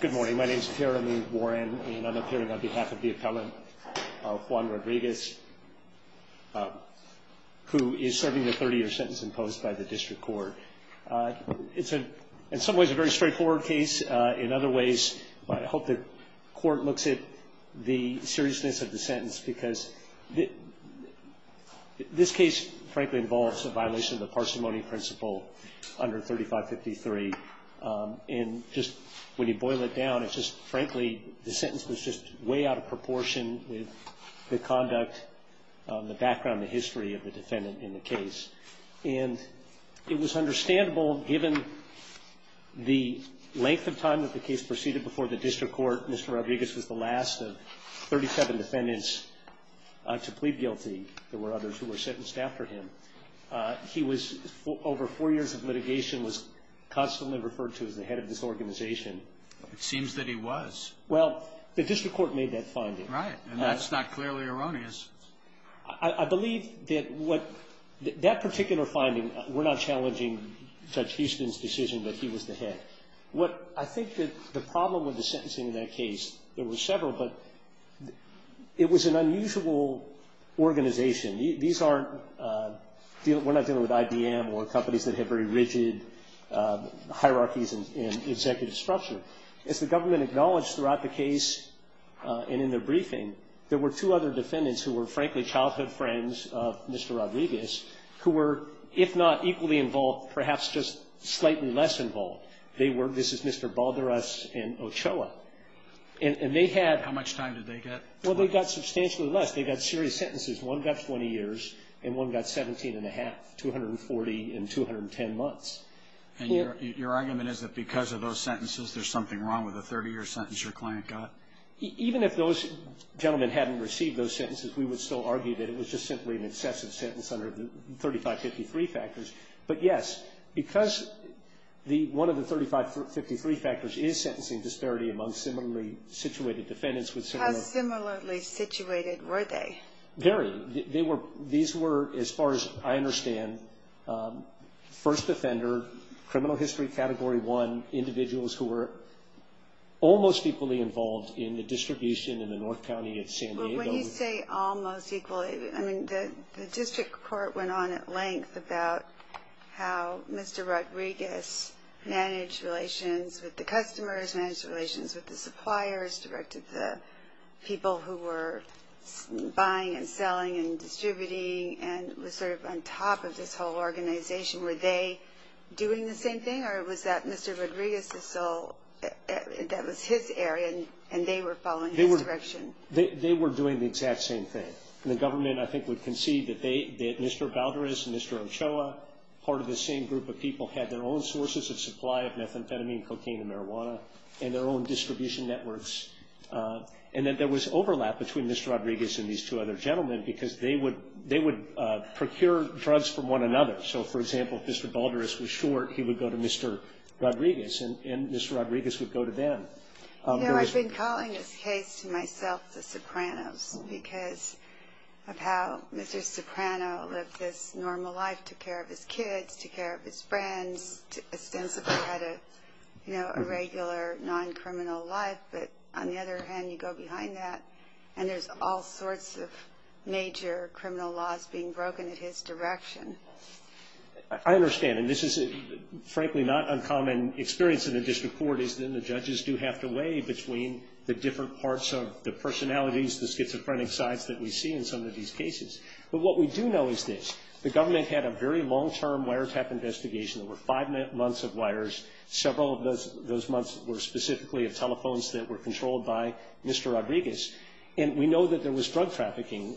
Good morning. My name is Jeremy Warren, and I'm appearing on behalf of the appellant, Juan Rodriguez, who is serving a 30-year sentence imposed by the district court. It's in some ways a very straightforward case. In other ways, I hope the court looks at the seriousness of the sentence, because this case, frankly, involves a violation of the parsimony principle under 3553. And just when you boil it down, it's just, frankly, the sentence was just way out of proportion with the conduct, the background, the history of the defendant in the case. And it was understandable, given the length of time that the case proceeded before the district court, Mr. Rodriguez was the last of 37 defendants to plead guilty. There were others who were sentenced after him. He was, over four years of litigation, was constantly referred to as the head of this organization. It seems that he was. Well, the district court made that finding. Right. And that's not clearly erroneous. I believe that what that particular finding, we're not challenging Judge Houston's decision that he was the head. What I think that the problem with the sentencing in that case, there were several, but it was an unusual organization. These aren't, we're not dealing with IBM or companies that have very rigid hierarchies in executive structure. As the government acknowledged throughout the case and in their briefing, there were two other defendants who were, frankly, childhood friends of Mr. Rodriguez, who were, if not equally involved, perhaps just slightly less involved. They were, this is Mr. Balderas and Ochoa. And they had How much time did they get? Well, they got substantially less. They got serious sentences. One got 20 years, and one got 17 and a half, 240 and 210 months. And your argument is that because of those sentences, there's something wrong with the 30-year sentence your client got? Even if those gentlemen hadn't received those sentences, we would still argue that it was just simply an excessive sentence under the 3553 factors. But, yes, because one of the 3553 factors is sentencing disparity among similarly situated defendants with similar How similarly situated were they? Very. They were, these were, as far as I understand, first offender, criminal history category one, individuals who were almost equally involved in the distribution in the North County of San Diego. When you say almost equally, I mean, the district court went on at length about how Mr. Rodriguez managed relations with the customers, managed relations with the suppliers, directed the people who were buying and selling and distributing, and was sort of on top of this whole organization. Were they doing the same thing, or was that Mr. Rodriguez's sole, that was his area, and they were following his direction? They were doing the exact same thing. And the government, I think, would concede that Mr. Balderas and Mr. Ochoa, part of the same group of people, had their own sources of supply of methamphetamine, cocaine, and marijuana, and their own distribution networks. And that there was overlap between Mr. Rodriguez and these two other gentlemen, because they would procure drugs from one another. So, for example, if Mr. Balderas was short, he would go to Mr. Rodriguez, and Mr. Rodriguez would go to them. You know, I've been calling this case to myself the Sopranos, because of how Mr. Soprano lived this normal life, took care of his kids, took care of his friends, ostensibly had a regular, non-criminal life. But on the other hand, you go behind that, and there's all sorts of major criminal laws being broken at his direction. I understand. And this is, frankly, not uncommon experience in the district court, is that the judges do have to weigh between the different parts of the personalities, the schizophrenic sides that we see in some of these cases. But what we do know is this. The government had a very long-term wiretap investigation. There were five months of wires. Several of those months were specifically of telephones that were controlled by Mr. Rodriguez. And we know that there was drug trafficking.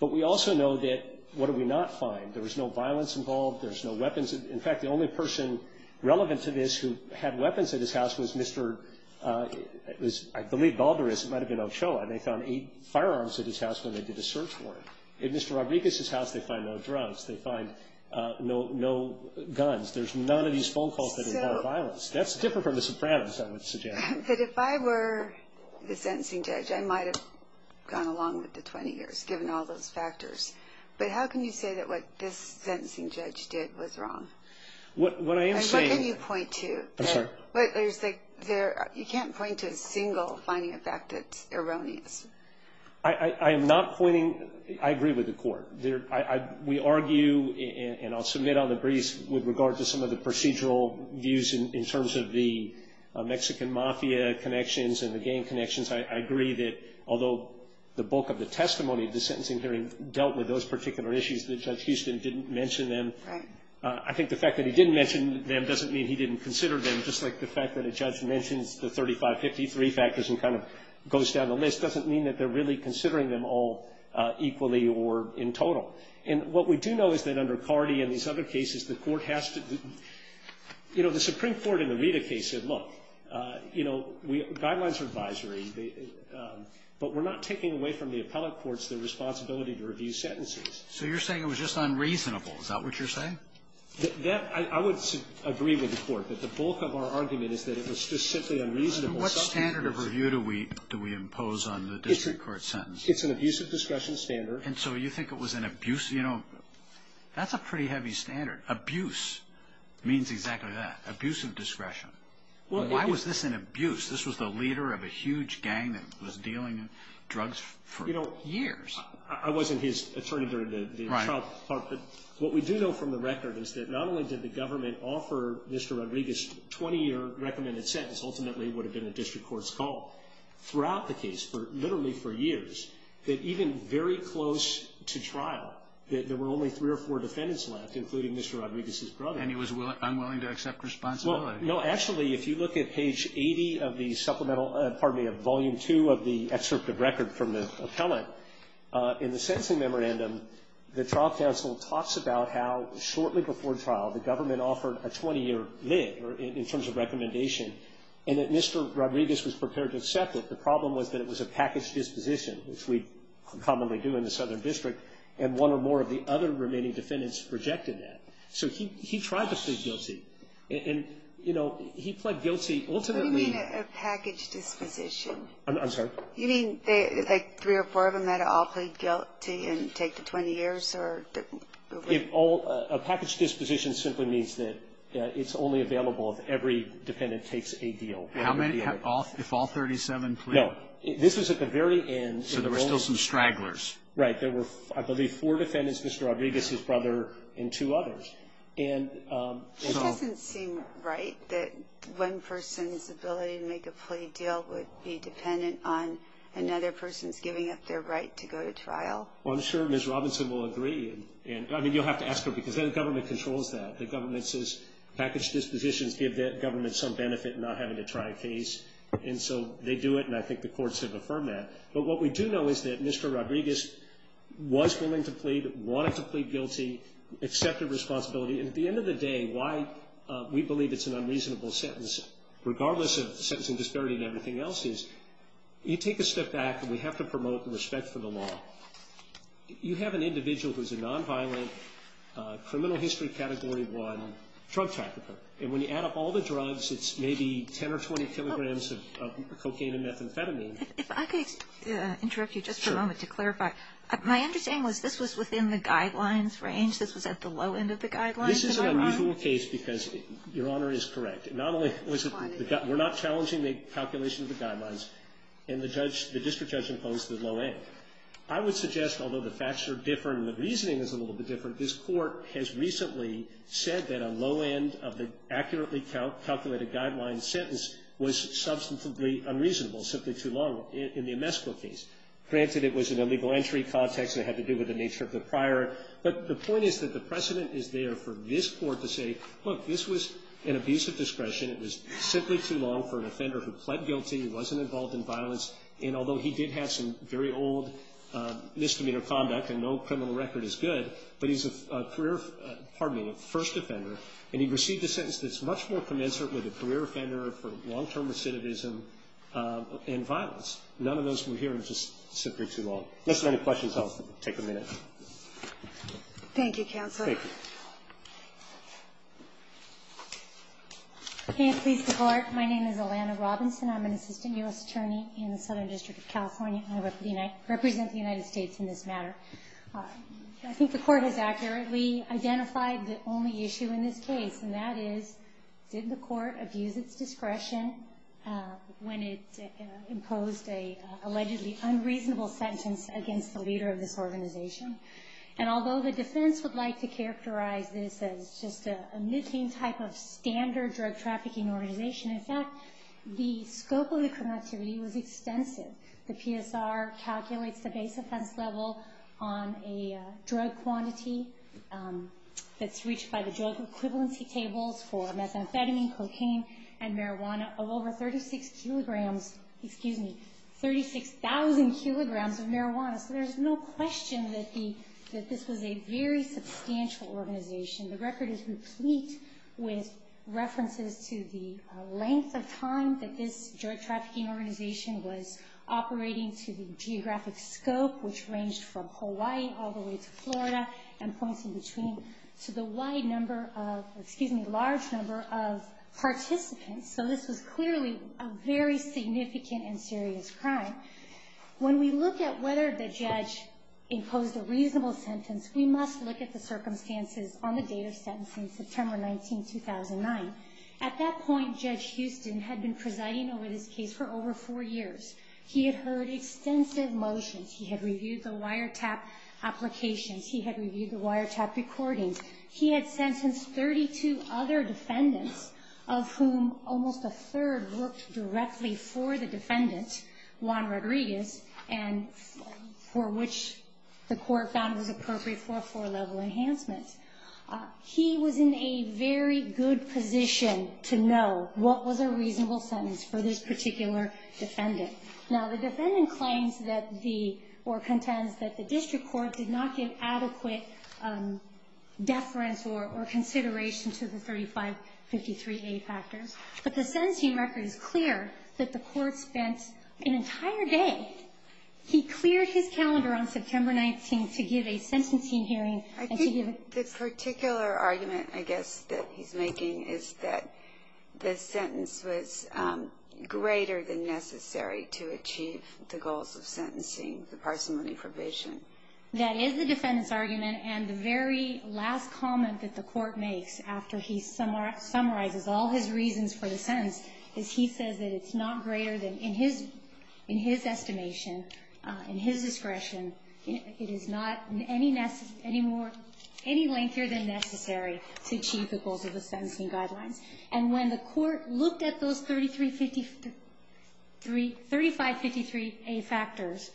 But we also know that, what do we not find? There was no violence involved. There was no weapons. In fact, the only person relevant to this who had weapons at his house was Mr. I believe Balderas. It might have been Ochoa. And they found eight firearms at his house when they did a search warrant. At Mr. Rodriguez's house, they find no drugs. They find no guns. There's none of these phone calls that involve violence. That's different from the Sopranos, I would suggest. But if I were the sentencing judge, I might have gone along with the 20 years, given all those factors. But how can you say that what this sentencing judge did was wrong? And what can you point to? You can't point to a single finding of fact that's erroneous. I agree with the court. We argue, and I'll submit on the briefs, with regard to some of the procedural views in terms of the Mexican mafia connections and the gang connections. I agree that although the bulk of the testimony of the sentencing hearing dealt with those particular issues, that Judge Houston didn't mention them. I think the fact that he didn't mention them doesn't mean he didn't consider them, just like the fact that a judge mentions the 3553 factors and kind of goes down the list doesn't mean that they're really considering them all equally or in total. And what we do know is that under Cardi and these other cases, the Supreme Court in the Rita case said, look, you know, guidelines are advisory. But we're not taking away from the appellate courts their responsibility to review sentences. So you're saying it was just unreasonable. Is that what you're saying? I would agree with the court that the bulk of our argument is that it was just simply unreasonable. What standard of review do we impose on the district court sentence? It's an abusive discretion standard. And so you think it was an abuse? You know, that's a pretty heavy standard. Abuse means exactly that, abusive discretion. Why was this an abuse? This was the leader of a huge gang that was dealing drugs for years. I wasn't his attorney during the trial part, but what we do know from the record is that not only did the government offer Mr. Rodriguez a 20-year recommended sentence, ultimately it would have been a district court's call, throughout the case, literally for years, that even very close to trial, that there were only three or four defendants left, including Mr. Rodriguez's brother. And he was unwilling to accept responsibility. Well, no, actually, if you look at page 80 of the supplemental, pardon me, of Volume 2 of the excerpt of record from the appellant, in the sentencing memorandum, the trial counsel talks about how shortly before trial, the government offered a 20-year lid, in terms of recommendation, and that Mr. Rodriguez was prepared to accept it. The problem was that it was a package disposition, which we commonly do in the Southern District, and one or more of the other remaining defendants rejected that. So he tried to plead guilty. And, you know, he pled guilty, ultimately. What do you mean a package disposition? I'm sorry? You mean, like, three or four of them that all plead guilty and take the 20 years? A package disposition simply means that it's only available if every defendant takes a deal. How many, if all 37 plead? No. This was at the very end. So there were still some stragglers. Right. There were, I believe, four defendants, Mr. Rodriguez's brother and two others. It doesn't seem right that one person's ability to make a plea deal would be dependent on another person's giving up their right to go to trial. Well, I'm sure Ms. Robinson will agree. I mean, you'll have to ask her, because the government controls that. The government says package dispositions give the government some benefit in not having to try a case. And so they do it, and I think the courts have affirmed that. But what we do know is that Mr. Rodriguez was willing to plead, wanted to plead guilty, accepted responsibility, and at the end of the day, why we believe it's an unreasonable sentence, regardless of sentencing disparity and everything else, is you take a step back, and we have to promote respect for the law. You have an individual who's a nonviolent criminal history Category 1 drug trafficker, and when you add up all the drugs, it's maybe 10 or 20 kilograms of cocaine and methamphetamine. If I could interrupt you just for a moment to clarify. Sure. My understanding was this was within the guidelines range? This was at the low end of the guidelines? This is an unusual case because, Your Honor, it is correct. Not only was it the guy we're not challenging the calculation of the guidelines, and the judge, the district judge imposed the low end. I would suggest, although the facts are different and the reasoning is a little bit different, this Court has recently said that a low end of the accurately calculated guideline sentence was substantively unreasonable, simply too long in the Amesco case. Granted, it was in a legal entry context, and it had to do with the nature of the prior, but the point is that the precedent is there for this Court to say, look, this was an abusive discretion. It was simply too long for an offender who pled guilty, who wasn't involved in violence, and although he did have some very old misdemeanor conduct, and no criminal record is good, but he's a career, pardon me, first offender, and he received a sentence that's much more commensurate with a career offender for long-term recidivism and violence. None of those we're hearing is just simply too long. Unless there are any questions, I'll take a minute. Thank you, Counselor. Thank you. May it please the Court. My name is Alana Robinson. I'm an assistant U.S. attorney in the Southern District of California, and I represent the United States in this matter. I think the Court has accurately identified the only issue in this case, and that is, did the Court abuse its discretion when it imposed an allegedly unreasonable sentence against the leader of this organization? And although the defense would like to characterize this as just a nitty type of standard drug trafficking organization, in fact, the scope of the criminal activity was extensive. The PSR calculates the base offense level on a drug quantity that's reached by the drug equivalency tables for methamphetamine, cocaine, and marijuana of over 36 kilograms, excuse me, 36,000 kilograms of marijuana. So there's no question that this was a very substantial organization. The record is complete with references to the length of time that this drug trafficking organization was operating to the geographic scope, which ranged from Hawaii all the way to Florida, and points in between to the wide number of, excuse me, large number of participants. So this was clearly a very significant and serious crime. When we look at whether the judge imposed a reasonable sentence, we must look at the circumstances on the date of sentencing, September 19, 2009. At that point, Judge Houston had been presiding over this case for over four years. He had heard extensive motions. He had reviewed the wiretap applications. He had reviewed the wiretap recordings. He had sentenced 32 other defendants, of whom almost a third worked directly for the defendant, Juan Rodriguez, and for which the court found it was appropriate for a four-level enhancement. He was in a very good position to know what was a reasonable sentence for this particular defendant. Now, the defendant claims that the or contends that the district court did not give adequate deference or consideration to the 3553A factors. But the sentencing record is clear that the court spent an entire day. He cleared his calendar on September 19 to give a sentencing hearing. I think the particular argument, I guess, that he's making is that the sentence was greater than necessary to achieve the goals of sentencing, the parsimony probation. That is the defendant's argument. And the very last comment that the court makes after he summarizes all his reasons for the sentence is he says that it's not greater than, in his estimation, in his discretion, it is not any lengthier than necessary to achieve the goals of the sentencing guidelines. And when the court looked at those 3553A factors,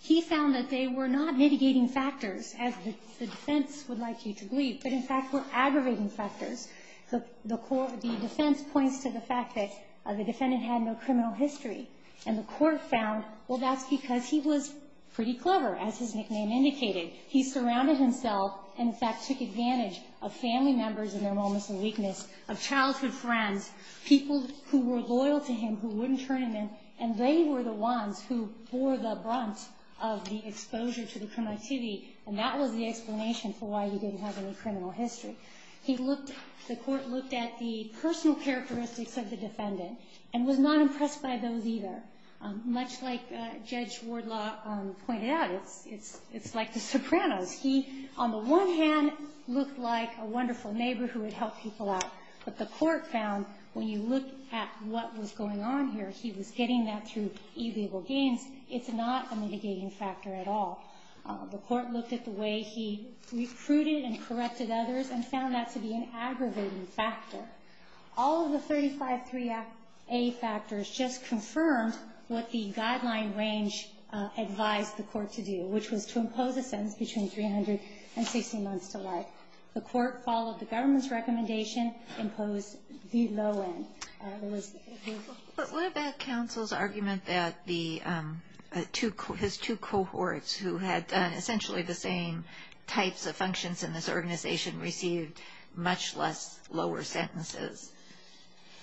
he found that they were not mitigating factors, as the defense would like you to believe, but, in fact, were aggravating factors. The defense points to the fact that the defendant had no criminal history. And the court found, well, that's because he was pretty clever, as his nickname indicated. He surrounded himself and, in fact, took advantage of family members in their moments of weakness, of childhood friends, people who were loyal to him who wouldn't turn him in, and they were the ones who bore the brunt of the exposure to the criminal activity. And that was the explanation for why he didn't have any criminal history. He looked, the court looked at the personal characteristics of the defendant and was not impressed by those either. Much like Judge Wardlaw pointed out, it's like the Sopranos. He, on the one hand, looked like a wonderful neighbor who would help people out, but the court found when you look at what was going on here, he was getting that through illegal gains. It's not a mitigating factor at all. The court looked at the way he recruited and corrected others and found that to be an aggravating factor. All of the 353A factors just confirmed what the guideline range advised the court to do, which was to impose a sentence between 300 and 60 months to life. The court followed the government's recommendation, imposed the low end. But what about counsel's argument that the two, his two cohorts who had essentially the same types of functions in this organization received much less lower sentences?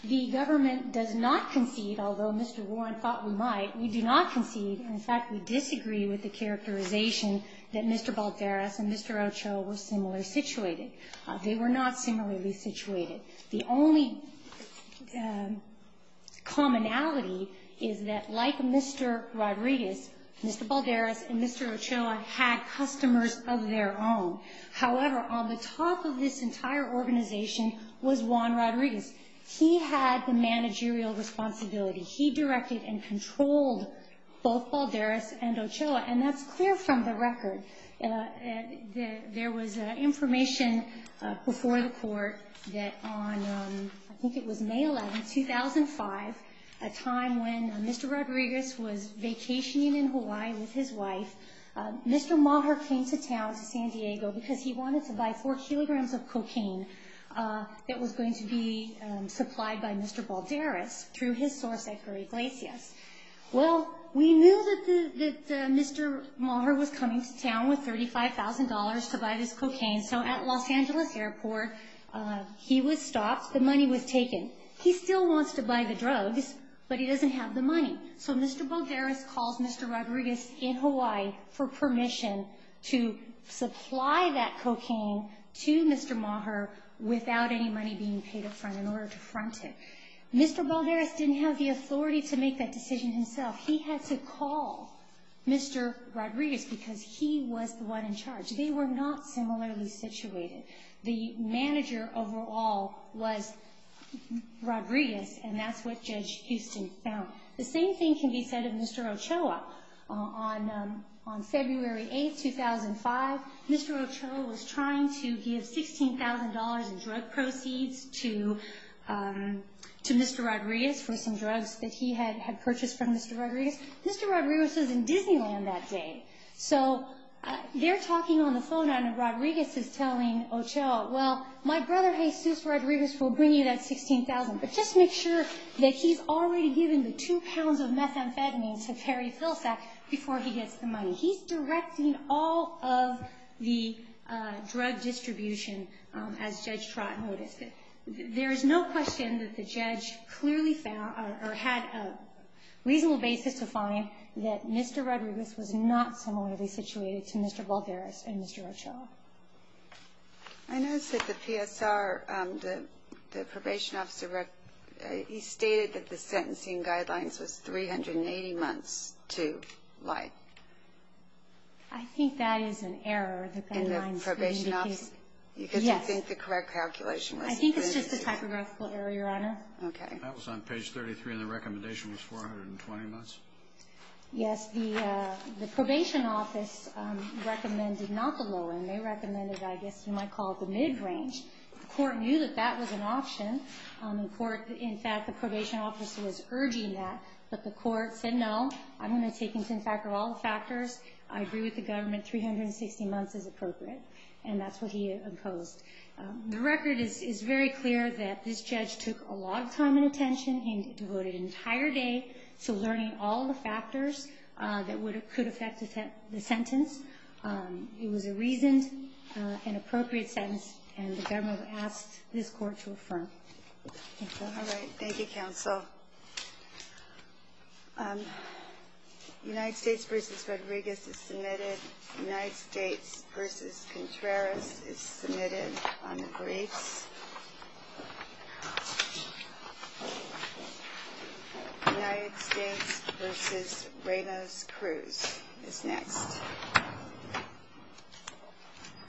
The government does not concede, although Mr. Warren thought we might. We do not concede. In fact, we disagree with the characterization that Mr. Balderas and Mr. Ochoa were similarly situated. They were not similarly situated. The only commonality is that like Mr. Rodriguez, Mr. Balderas and Mr. Ochoa had customers of their own. However, on the top of this entire organization was Juan Rodriguez. He had the managerial responsibility. He directed and controlled both Balderas and Ochoa, and that's clear from the record. There was information before the court that on, I think it was May 11, 2005, a time when Mr. Rodriguez was vacationing in Hawaii with his wife, Mr. Maher came to town, to San Diego, because he wanted to buy four kilograms of cocaine that was going to be supplied by Mr. Balderas through his source, Edgar Iglesias. Well, we knew that Mr. Maher was coming to town with $35,000 to buy this cocaine, so at Los Angeles Airport, he was stopped. The money was taken. He still wants to buy the drugs, but he doesn't have the money. So Mr. Balderas calls Mr. Rodriguez in Hawaii for permission to supply that cocaine to Mr. Maher without any money being paid up front in order to front him. Mr. Balderas didn't have the authority to make that decision himself. He had to call Mr. Rodriguez because he was the one in charge. They were not similarly situated. The manager overall was Rodriguez, and that's what Judge Houston found. The same thing can be said of Mr. Ochoa. On February 8, 2005, Mr. Ochoa was trying to give $16,000 in drug proceeds to Mr. Rodriguez for some drugs that he had purchased from Mr. Rodriguez. Mr. Rodriguez was in Disneyland that day. So they're talking on the phone, and Rodriguez is telling Ochoa, well, my brother Jesus Rodriguez will bring you that $16,000, but just make sure that he's already given the two pounds of methamphetamines to Terry Filsack before he gets the money. He's directing all of the drug distribution, as Judge Trott noticed. There is no question that the judge clearly found or had a reasonable basis to find that Mr. Rodriguez was not similarly situated to Mr. Balderas and Mr. Ochoa. I noticed that the PSR, the probation officer, he stated that the sentencing guidelines was 380 months to life. I think that is an error. In the probation office? Yes. You didn't think the correct calculation was? I think it's just a typographical error, Your Honor. Okay. That was on page 33, and the recommendation was 420 months? Yes. The probation office recommended not the low end. They recommended, I guess you might call it the mid-range. The court knew that that was an option. In fact, the probation officer was urging that, but the court said, no, I'm going to take into factor all the factors. I agree with the government, 360 months is appropriate, and that's what he opposed. The record is very clear that this judge took a lot of time and attention. He devoted an entire day to learning all the factors that could affect the sentence. It was a reasoned and appropriate sentence, and the government asked this court to affirm. Thank you. All right. Thank you, counsel. United States v. Rodriguez is submitted. United States v. Contreras is submitted on the briefs. United States v. Reynos Cruz is next.